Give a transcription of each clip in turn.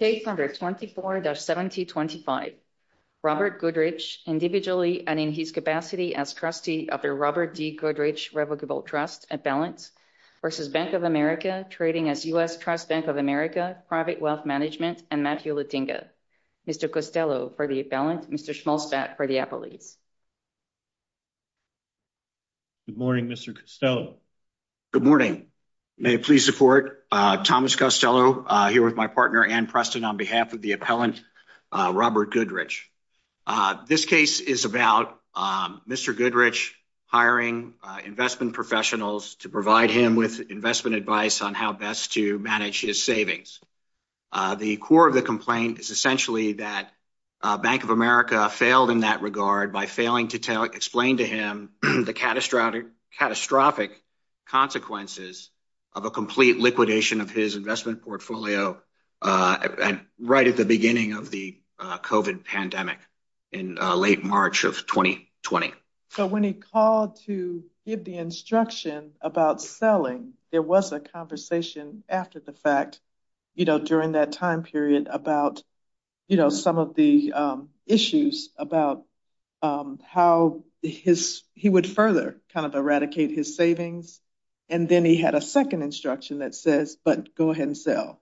Page 124-1725. Robert Goodrich, individually and in his capacity as trustee of the Robert D. Goodrich Revocable Trust and Balance v. Bank of America, trading as U.S. Trust Bank of America, Private Wealth Management, and Matthew Letinga. Mr. Costello for the balance, Mr. Schmolstadt for the appellees. Good morning, Mr. Costello. Good morning. May I please support Thomas Costello here with my partner Ann Preston on behalf of the appellant Robert Goodrich. This case is about Mr. Goodrich hiring investment professionals to provide him with investment advice on how best to manage his savings. The core of the complaint is essentially that Bank of America failed in that regard by failing to explain to him the catastrophic consequences of a complete liquidation of his investment portfolio right at the beginning of the COVID pandemic in late March of 2020. So when he called to give the instruction about selling, there was a conversation after the fact, you know, during that time period about, you know, some of the issues about how he would further kind of eradicate his savings. And then he had a second instruction that says, but go ahead and sell.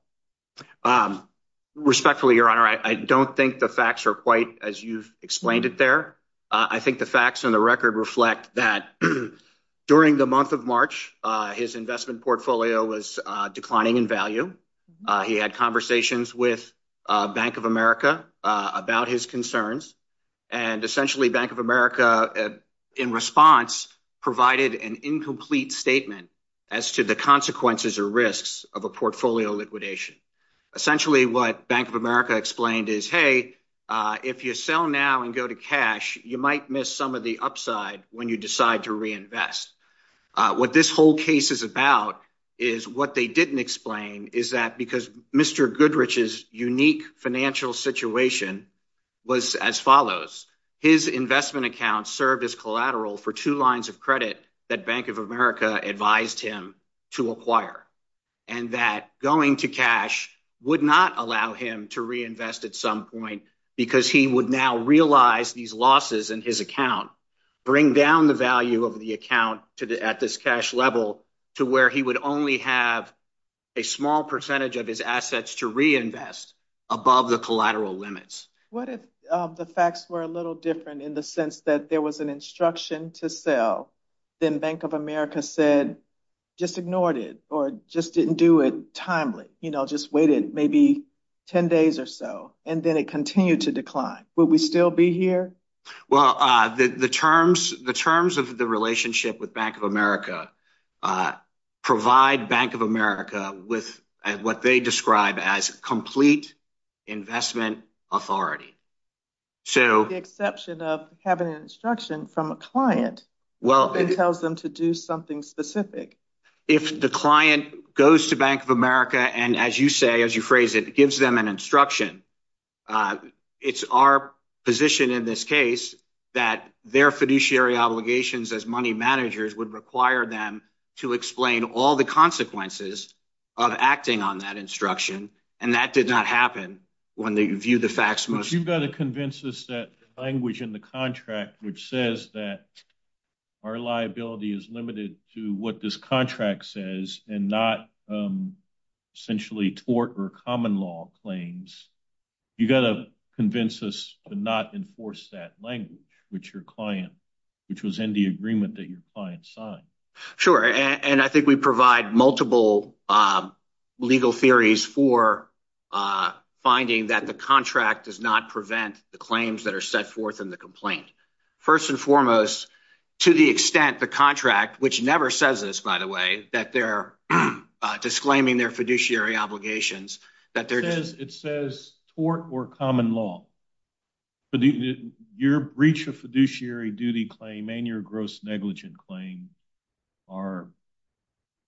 Respectfully, Your Honor, I don't think the facts are quite as you've explained it there. I think the facts on the record reflect that during the month of March, his investment portfolio was declining in value. He had conversations with Bank of America about his concerns. And essentially, Bank of America, in response, provided an incomplete statement as to the consequences or risks of a portfolio liquidation. Essentially, what Bank of America explained is, if you sell now and go to cash, you might miss some of the upside when you decide to reinvest. What this whole case is about is what they didn't explain is that because Mr. Goodrich's unique financial situation was as follows. His investment account served as collateral for two lines of credit that Bank of America advised him to acquire, and that going to cash would not allow him to reinvest at some point because he would now realize these losses in his account, bring down the value of the account at this cash level to where he would only have a small percentage of his assets to reinvest above the collateral limits. What if the facts were a little different in the sense that there was an instruction to sell, then Bank of America said, just ignored it or just didn't do it timely, just waited maybe 10 days or so, and then it continued to decline. Would we still be here? Well, the terms of the relationship with Bank of America provide Bank of America with what they describe as complete investment authority. So, the exception of having an instruction from a client that tells them to do something specific. If the client goes to Bank of America and, as you say, as you phrase it, gives them an instruction, it's our position in this case that their fiduciary obligations as money managers would require them to explain all the consequences of acting on that instruction, and that did not happen when they view the facts most. You've got to convince us that language in the contract which says that our liability is limited to what this contract says and not essentially tort or common law claims. You've got to convince us to not enforce that language, which your client, which was in the agreement that your client signed. Sure, and I think we provide multiple legal theories for finding that the contract does not prevent the claims that are set forth in the complaint. First and foremost, to the extent the contract, which never says this, by the way, that they're disclaiming their fiduciary obligations. It says tort or common law, but your breach of fiduciary duty claim and your gross negligent claim are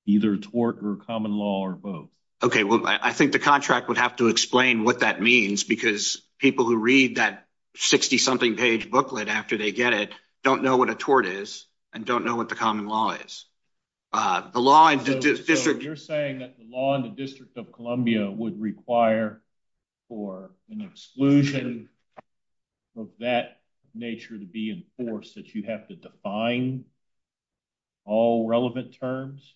either tort or common law or both. Okay, well, I think the contract would have to explain what that means because people who read that 60-something page booklet after they get it don't know what a tort is and don't know what the common law is. You're saying that the law in the District of Columbia would require for an exclusion of that nature to be enforced that you have to define all relevant terms?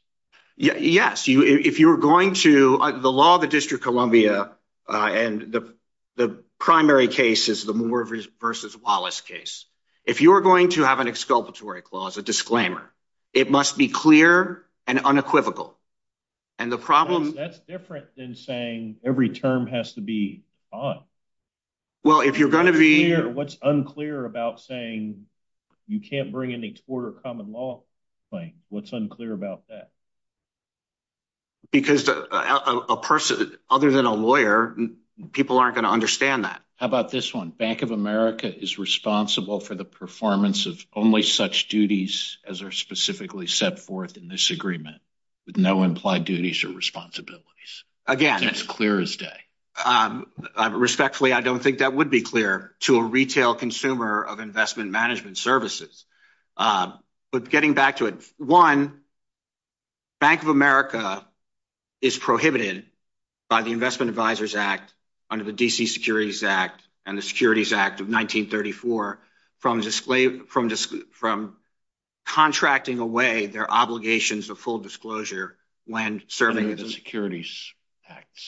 Yes, if you're going to, the law of the District of Columbia and the primary case is the Moore versus Wallace case. If you're going to have an exculpatory clause, a disclaimer, it must be clear and unequivocal. And the problem- That's different than saying every term has to be fine. Well, if you're going to be- What's unclear about saying you can't bring a tort or common law claim? What's unclear about that? Because other than a lawyer, people aren't going to understand that. How about this one? Bank of America is responsible for the performance of only such duties as are specifically set forth in this agreement with no implied duties or responsibilities. Again- And it's clear as day. Respectfully, I don't think that would be clear to a retail consumer of investment management services. But getting back to it, one, Bank of America is prohibited by the Investment Advisors Act under the D.C. Securities Act and the Securities Act of 1934 from contracting away their obligations of full disclosure when serving- Under the Securities Act.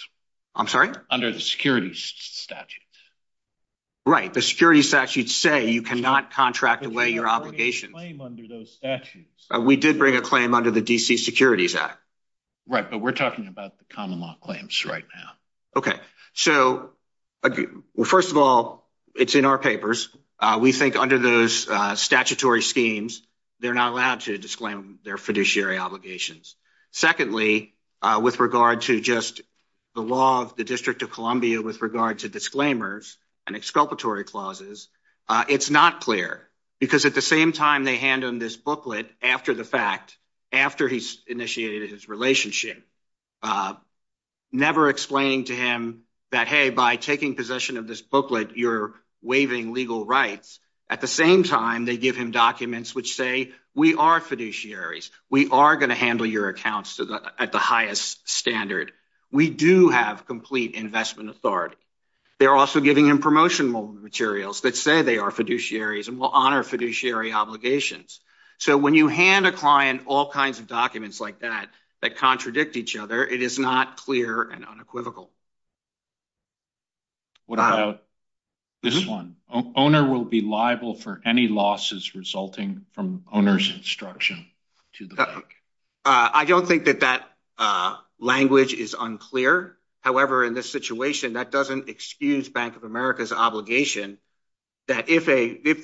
I'm sorry? Under the Securities Statute. Right. The Securities Statute say you cannot contract away your obligations. But you have already a claim under those statutes. We did bring a claim under the D.C. Securities Act. Right. But we're talking about the common law claims right now. Okay. So, first of all, it's in our papers. We think under those statutory schemes, they're not allowed to disclaim their fiduciary obligations. Secondly, with regard to just the law of the District of Columbia with regard to disclaimers and exculpatory clauses, it's not clear. Because at the same time they hand him this booklet after the fact, after he's initiated his relationship, never explaining to him that, hey, by taking possession of this booklet, you're waiving legal rights. At the same time, they give him documents which say, we are fiduciaries. We are going to handle your accounts at the highest standard. We do have complete investment authority. They're also giving him promotional materials that say they are fiduciaries and will honor fiduciary obligations. So, when you hand a client all kinds of documents like that that contradict each other, it is not clear and unequivocal. What about this one? Owner will be liable for any losses resulting from owner's instruction. To the bank. I don't think that that language is unclear. However, in this situation, that doesn't excuse Bank of America's obligation that if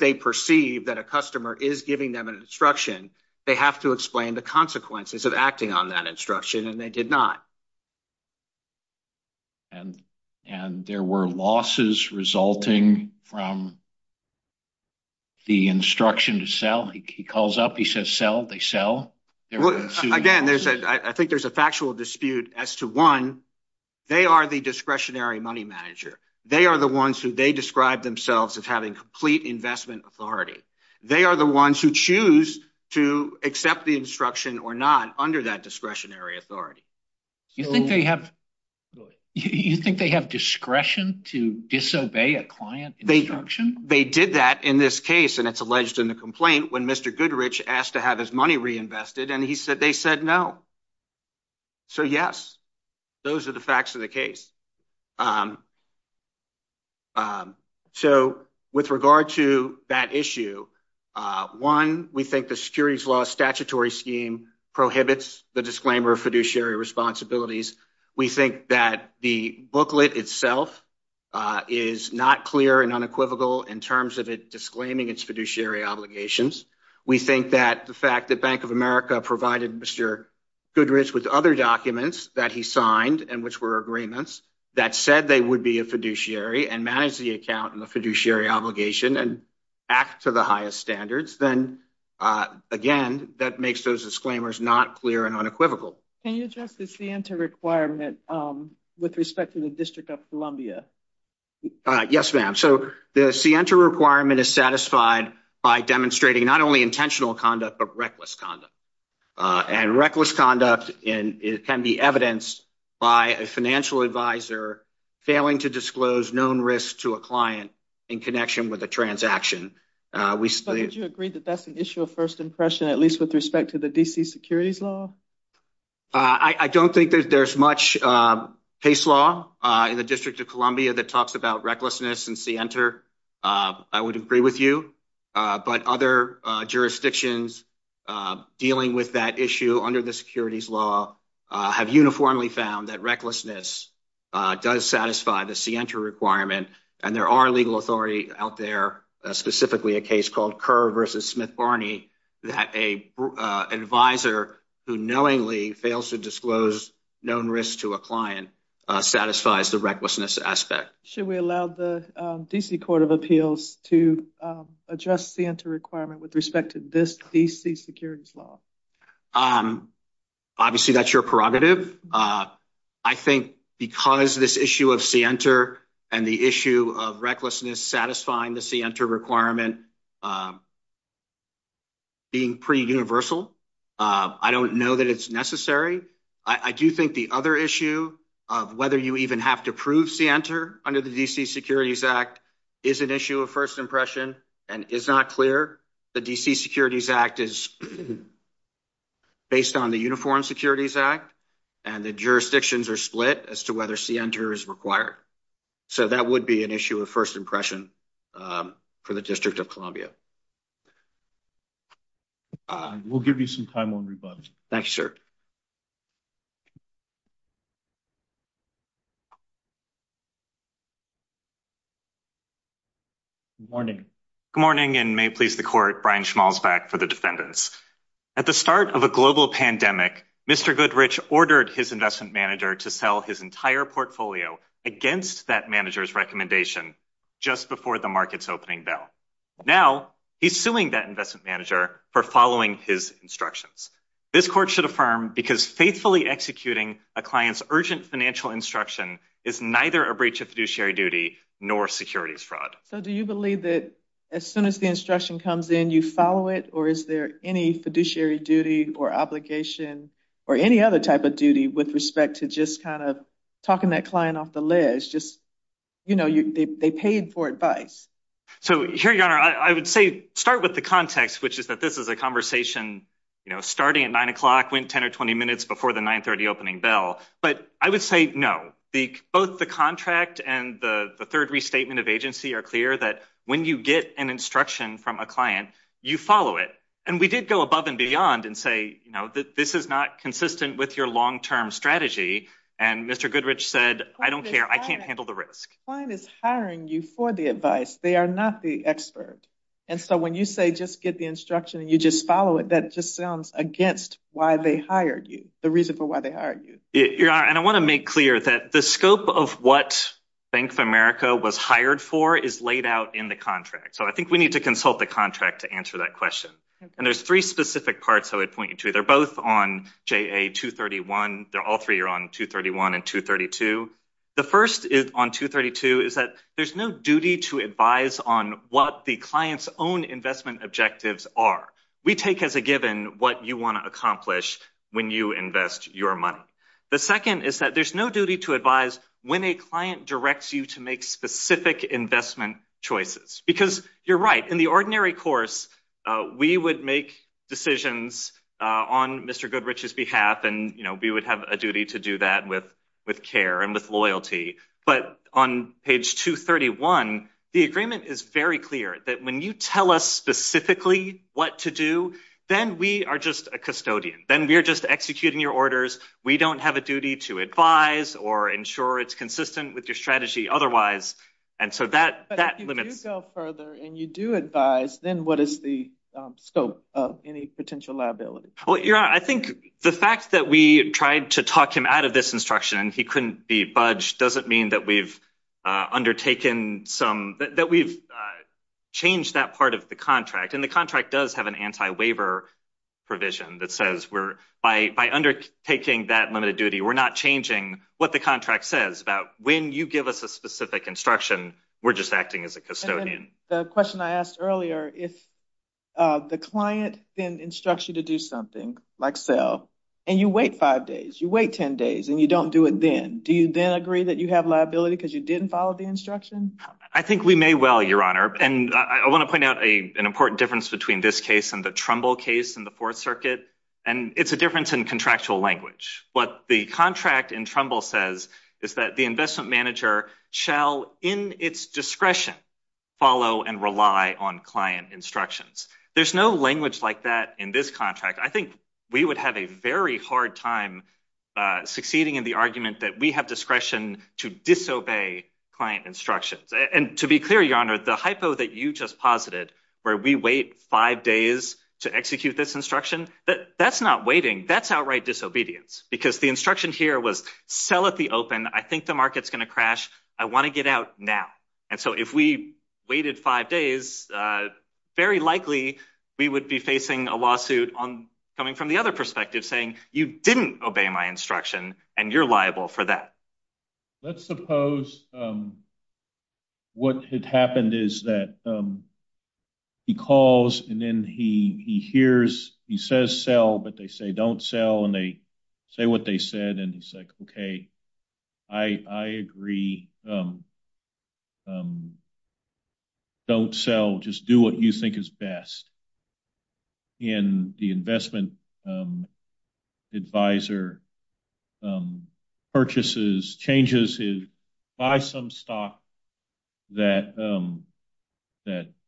they perceive that a customer is giving them an instruction, they have to explain the consequences of acting on that instruction, and they did not. And there were losses resulting from the instruction to sell. He calls up, they sell. Again, I think there's a factual dispute as to one, they are the discretionary money manager. They are the ones who they describe themselves as having complete investment authority. They are the ones who choose to accept the instruction or not under that discretionary authority. You think they have discretion to disobey a client instruction? They did that in this case, and it's alleged in the complaint when Mr. Goodrich asked to have his money reinvested, and he said they said no. So, yes, those are the facts of the case. So, with regard to that issue, one, we think the securities law statutory scheme prohibits the disclaimer of fiduciary responsibilities. We think that the booklet itself is not clear and unequivocal in terms of it disclaiming its fiduciary obligations. We think that the fact that Bank of America provided Mr. Goodrich with other documents that he signed and which were agreements that said they would be a fiduciary and manage the account and the fiduciary obligation and act to the highest standards, then, again, that makes those disclaimers not clear and unequivocal. Can you address the Sienta requirement with respect to the District of Columbia? Yes, ma'am. So, the Sienta requirement is satisfied by demonstrating not only intentional conduct but reckless conduct, and reckless conduct can be evidenced by a financial advisor failing to disclose known risks to a client in connection with a transaction. But did you agree that that's an issue of first impression, at least with respect to the D.C. that talks about recklessness and Sienta? I would agree with you, but other jurisdictions dealing with that issue under the securities law have uniformly found that recklessness does satisfy the Sienta requirement, and there are legal authorities out there, specifically a case called Kerr v. Smith-Barney, that an advisor who knowingly fails to disclose known risks to a client satisfies the recklessness aspect. Should we allow the D.C. Court of Appeals to address Sienta requirement with respect to this D.C. securities law? Obviously, that's your prerogative. I think because this issue of Sienta and the issue of recklessness satisfying the Sienta requirement being pretty universal, I don't know that it's necessary. I do think the other issue of whether you even have to prove Sienta under the D.C. Securities Act is an issue of first impression and is not clear. The D.C. Securities Act is based on the Uniform Securities Act, and the jurisdictions are split as to whether Sienta is required. So that would be an issue of first impression for the District of Columbia. We'll give you some time on rebuttal. Thank you, sir. Good morning. Good morning, and may it please the Court, Brian Schmalzbeck for the defendants. At the start of a global pandemic, Mr. Goodrich ordered his investment manager to sell his entire portfolio against that manager's recommendation just before the market's opening bell. Now, he's suing that investment manager for following his instructions. This Court should affirm, because faithfully executing a client's urgent financial instruction is neither a breach of fiduciary duty nor securities fraud. So do you believe that as soon as the instruction comes in, you follow it, or is there any fiduciary duty or obligation or any other duty with respect to just kind of talking that client off the ledge? They paid for advice. So here, Your Honor, I would say start with the context, which is that this is a conversation starting at 9 o'clock, went 10 or 20 minutes before the 9.30 opening bell. But I would say no. Both the contract and the third restatement of agency are clear that when you get an instruction from a client, you follow it. And we did go above and beyond and say that this is not consistent with your long-term strategy. And Mr. Goodrich said, I don't care. I can't handle the risk. Client is hiring you for the advice. They are not the expert. And so when you say just get the instruction and you just follow it, that just sounds against why they hired you, the reason for why they hired you. Your Honor, and I want to make clear that the scope of what Bank of America was hired for is laid out in the contract. So I think we need to consult the contract to answer that question. And there's three specific parts I would point you to. They're both on JA-231. They're all three are on 231 and 232. The first on 232 is that there's no duty to advise on what the client's own investment objectives are. We take as a given what you want to accomplish when you invest your money. The second is that there's no duty to advise when a client directs you to make specific investment choices. Because you're right, in the ordinary course, we would make decisions on Mr. Goodrich's behalf and we would have a duty to do that with care and with loyalty. But on page 231, the agreement is very clear that when you tell us specifically what to do, then we are just a custodian. Then we are just executing your orders. We don't have a duty to advise or ensure it's consistent with your strategy otherwise. But if you do go further and you do advise, then what is the scope of any potential liability? Well, you're right. I think the fact that we tried to talk him out of this instruction and he couldn't be budged doesn't mean that we've undertaken some, that we've changed that part of the contract. And the contract does have an anti-waiver provision that says, by undertaking that limited duty, we're not changing what the contract says about when you give us a specific instruction, we're just acting as a custodian. The question I asked earlier, if the client then instructs you to do something, like sell, and you wait five days, you wait 10 days, and you don't do it then, do you then agree that you have liability because you didn't follow the instruction? I think we may well, Your Honor. And I want to point out an important difference between this case and the Trumbull case in the Fourth Circuit. And it's a difference in contractual language. What the contract in Trumbull says is that the investment manager shall, in its discretion, follow and rely on client instructions. There's no language like that in this contract. I think we would have a very hard time succeeding in the argument that we have discretion to disobey client instructions. And to be clear, Your Honor, the hypo that you just posited, where we wait five days to execute this instruction, that's not waiting, that's outright disobedience. Because the instruction here was, sell at the open, I think the market's going to crash, I want to get out now. And so if we waited five days, very likely, we would be facing a lawsuit coming from the other perspective, saying you didn't obey my instruction, and you're liable for that. Let's suppose what had happened is that he calls, and then he hears, he says sell, but they say don't sell, and they say what they said, and he's like, okay, I agree. Don't sell, just do what you think is best. And the investment advisor purchases, changes his, buys some stock that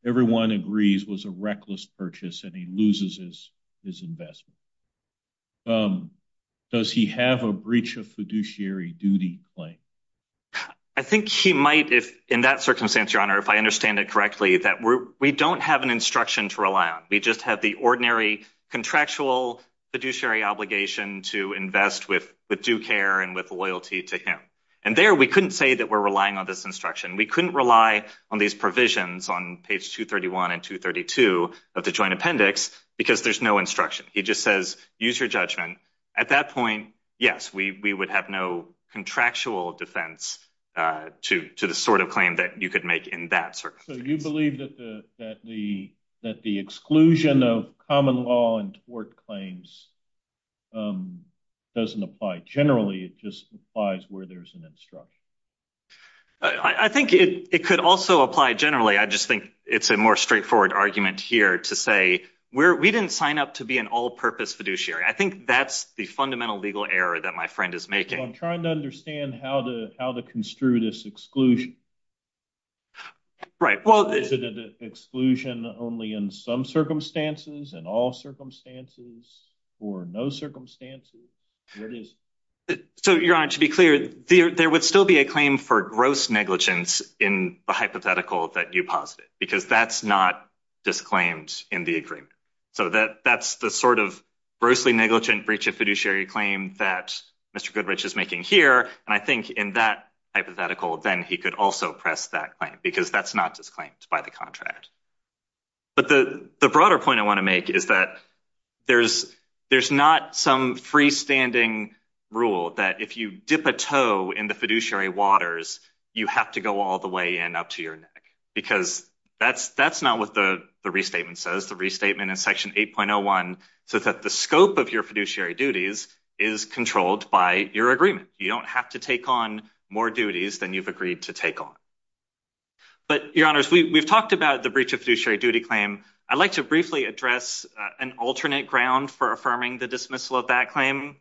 everyone agrees was a reckless purchase, and he loses his investment. Does he have a breach of fiduciary duty claim? I think he might, if in that circumstance, if I understand it correctly, that we don't have an instruction to rely on. We just have the ordinary contractual fiduciary obligation to invest with due care and with loyalty to him. And there, we couldn't say that we're relying on this instruction. We couldn't rely on these provisions on page 231 and 232 of the joint appendix, because there's no instruction. He just says, use your judgment. At that point, yes, we would have no contractual defense to the sort of claim that you could make in that circumstance. So you believe that the exclusion of common law and tort claims doesn't apply generally, it just applies where there's an instruction? I think it could also apply generally. I just think it's a more straightforward argument here to say we didn't sign up to be an all-purpose fiduciary. I think that's the fundamental legal error that my friend is making. I'm trying to understand how the exclusion, is it an exclusion only in some circumstances, in all circumstances, or no circumstances? So your honor, to be clear, there would still be a claim for gross negligence in the hypothetical that you posited, because that's not disclaimed in the agreement. So that's the sort of grossly negligent breach of fiduciary claim that Mr. Goodrich is making here, and I hypothetical then he could also press that claim, because that's not disclaimed by the contract. But the broader point I want to make is that there's not some freestanding rule that if you dip a toe in the fiduciary waters, you have to go all the way in up to your neck, because that's not what the restatement says. The restatement in section 8.01 says that the scope of your fiduciary duties is controlled by your agreement. You don't have to take on more duties than you've agreed to take on. But your honors, we've talked about the breach of fiduciary duty claim. I'd like to briefly address an alternate ground for affirming the dismissal of that claim,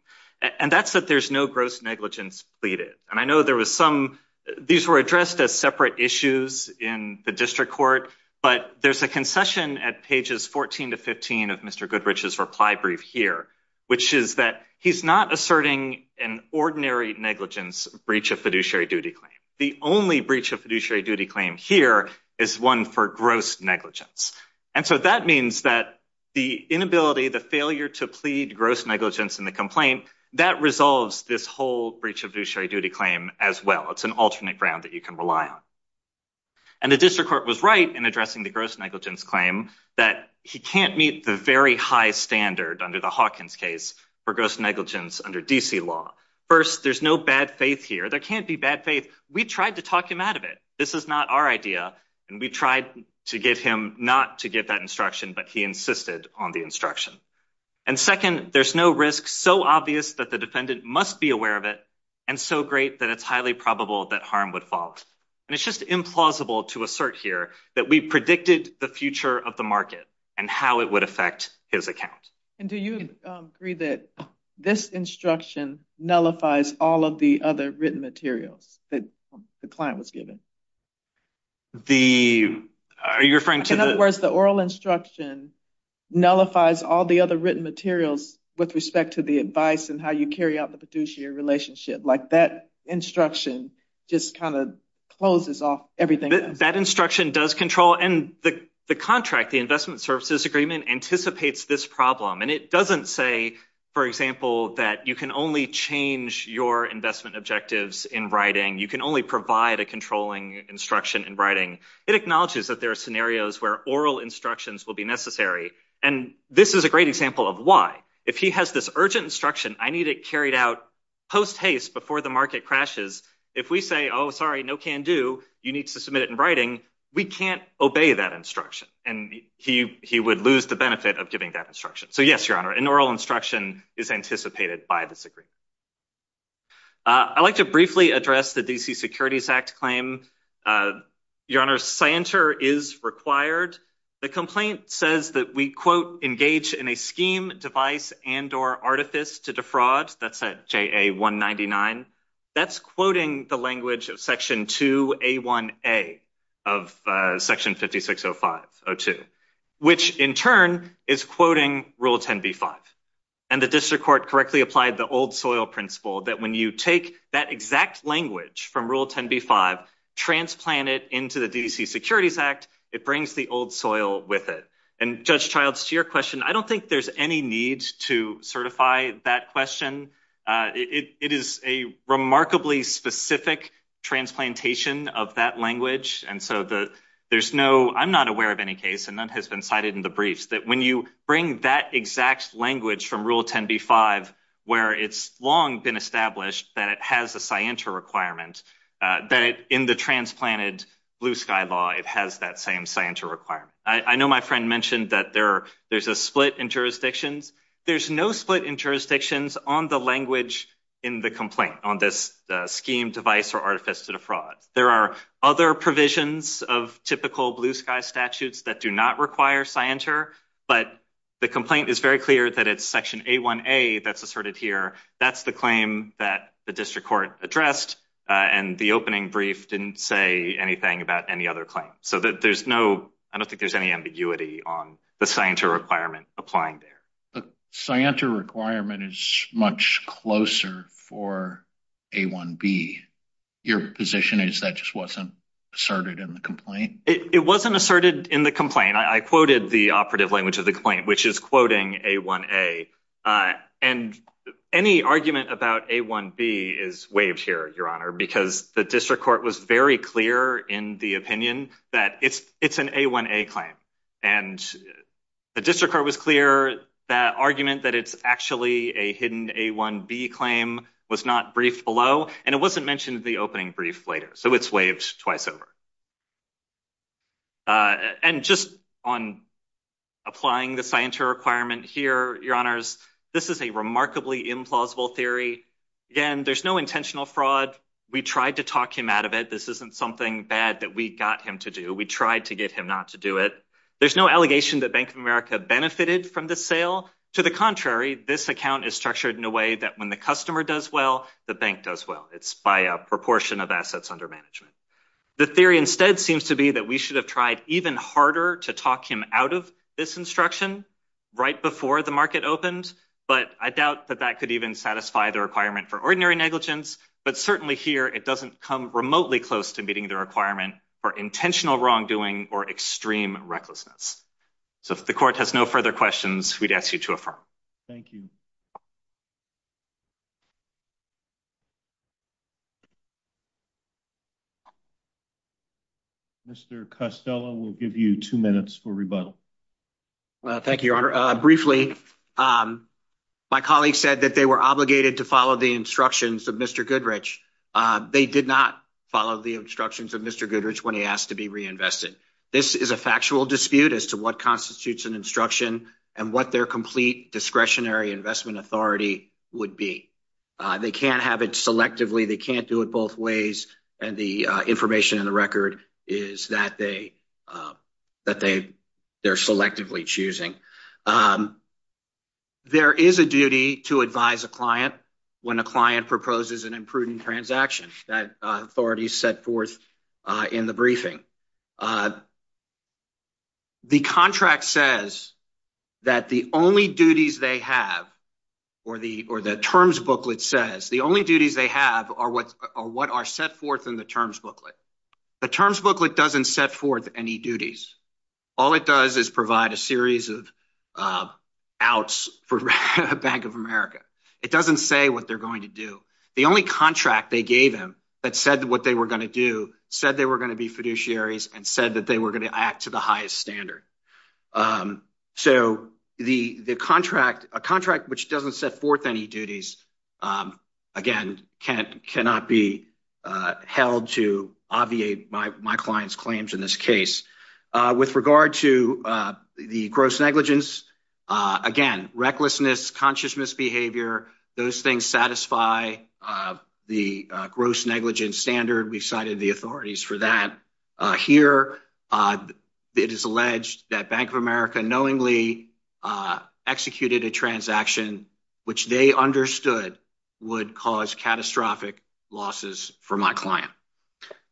and that's that there's no gross negligence pleaded. And I know there was some, these were addressed as separate issues in the district court, but there's a concession at pages 14 to 15 of Mr. Goodrich's reply brief here, which is that he's not asserting an ordinary negligence breach of fiduciary duty claim. The only breach of fiduciary duty claim here is one for gross negligence. And so that means that the inability, the failure to plead gross negligence in the complaint, that resolves this whole breach of fiduciary duty claim as well. It's an alternate ground that you can rely on. And the district court was right in addressing the gross negligence claim that he can't meet the very high standard under the Hawkins case for gross negligence under D.C. law. First, there's no bad faith here. There can't be bad faith. We tried to talk him out of it. This is not our idea. And we tried to get him not to give that instruction, but he insisted on the instruction. And second, there's no risk so obvious that the defendant must be aware of it, and so great that it's highly probable that harm would fall. And it's just implausible to assert here that we predicted the future of the market and how it would affect his account. And do you agree that this instruction nullifies all of the other written materials that the client was given? Are you referring to... In other words, the oral instruction nullifies all the other written materials with respect to the advice and how you carry out the fiduciary relationship. That instruction just closes off everything else. That instruction does control. And the contract, the investment services agreement, anticipates this problem. And it doesn't say, for example, that you can only change your investment objectives in writing. You can only provide a controlling instruction in writing. It acknowledges that there are scenarios where oral instructions will be necessary. And this is a great example of why. If he has this urgent instruction, I need it carried out post haste before the market crashes. If we say, oh, no can do. You need to submit it in writing. We can't obey that instruction. And he would lose the benefit of giving that instruction. So yes, Your Honor, an oral instruction is anticipated by this agreement. I'd like to briefly address the D.C. Securities Act claim. Your Honor, scienter is required. The complaint says that we, quote, engage in a scheme, device, and or artifice to defraud. That's at J.A. 199. That's quoting the language of Section 2A1A of Section 560502, which in turn is quoting Rule 10B5. And the district court correctly applied the old soil principle that when you take that exact language from Rule 10B5, transplant it into the D.C. Securities Act, it brings the old soil with it. And Judge Childs, to your question, I don't think there's any need to certify that question. It is a remarkably specific transplantation of that language. And so there's no, I'm not aware of any case, and none has been cited in the briefs, that when you bring that exact language from Rule 10B5, where it's long been established that it has a scienter requirement, that in the transplanted blue sky law, it has that same scienter requirement. I know my friend mentioned that there's a split in jurisdictions. There's no split in jurisdictions on the language in the complaint on this scheme, device, or artifice to defraud. There are other provisions of typical blue sky statutes that do not require scienter, but the complaint is very clear that it's Section A1A that's asserted here. That's the claim that the district court addressed, and the opening brief didn't say anything about any other claim. So there's no, I don't think there's any ambiguity on the scienter requirement applying there. The scienter requirement is much closer for A1B. Your position is that just wasn't asserted in the complaint? It wasn't asserted in the complaint. I quoted the operative language of the complaint, which is quoting A1A. And any argument about A1B is waived here, Your Honor, because the district court was very clear in the opinion that it's an A1A claim. And the district court was clear that argument that it's actually a hidden A1B claim was not briefed below, and it wasn't mentioned in the opening brief later. So it's waived twice over. And just on applying the scienter requirement here, Your Honors, this is a remarkably implausible theory. Again, there's no intentional fraud. We tried to talk him out of it. This isn't something bad that we got him to do. We tried to get him not to do it. There's no allegation that Bank of America benefited from the sale. To the contrary, this account is structured in a way that when the customer does well, the bank does well. It's by a proportion of assets under management. The theory instead seems to be that we should have tried even harder to talk him out of this instruction right before the market opened. But I doubt that that could even satisfy the requirement for ordinary negligence. But certainly here, it doesn't come remotely close to meeting the requirement for intentional wrongdoing or extreme recklessness. So if the court has no further questions, we'd ask you to affirm. Thank you. Mr Costello will give you two minutes for rebuttal. Thank you, Your Honor. Briefly, my colleagues said that they were obligated to the instructions of Mr. Goodrich. They did not follow the instructions of Mr. Goodrich when he asked to be reinvested. This is a factual dispute as to what constitutes an instruction and what their complete discretionary investment authority would be. They can't have it selectively. They can't do it both ways. And the information in the record is that they're selectively choosing. There is a duty to advise a client when a client proposes an imprudent transaction that authorities set forth in the briefing. The contract says that the only duties they have, or the terms booklet says, the only duties they have are what are set forth in the terms booklet. The terms booklet doesn't set forth any duties. All it does is provide a series of outs for Bank of America. It doesn't say what they're going to do. The only contract they gave him that said what they were going to do said they were going to be fiduciaries and said that they were going to act to the highest standard. So the contract, a contract which doesn't set forth any duties, again, cannot be held to obviate my client's claims in this case. With regard to the gross negligence, again, recklessness, consciousness behavior, those things satisfy the gross negligence standard. We cited the authorities for that. Here, it is alleged that Bank of America knowingly executed a transaction which they understood would cause catastrophic losses for my client.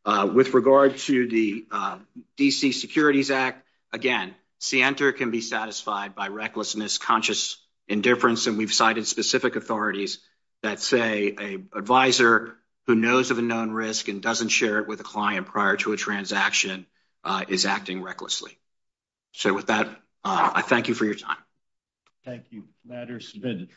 With regard to the D.C. Securities Act, again, SIENTA can be satisfied by recklessness, conscious indifference, and we've cited specific authorities that say an advisor who knows of a known risk and doesn't share it with a client prior to a transaction is acting recklessly. So with that, I thank you for your time. Thank you. Matter is submitted.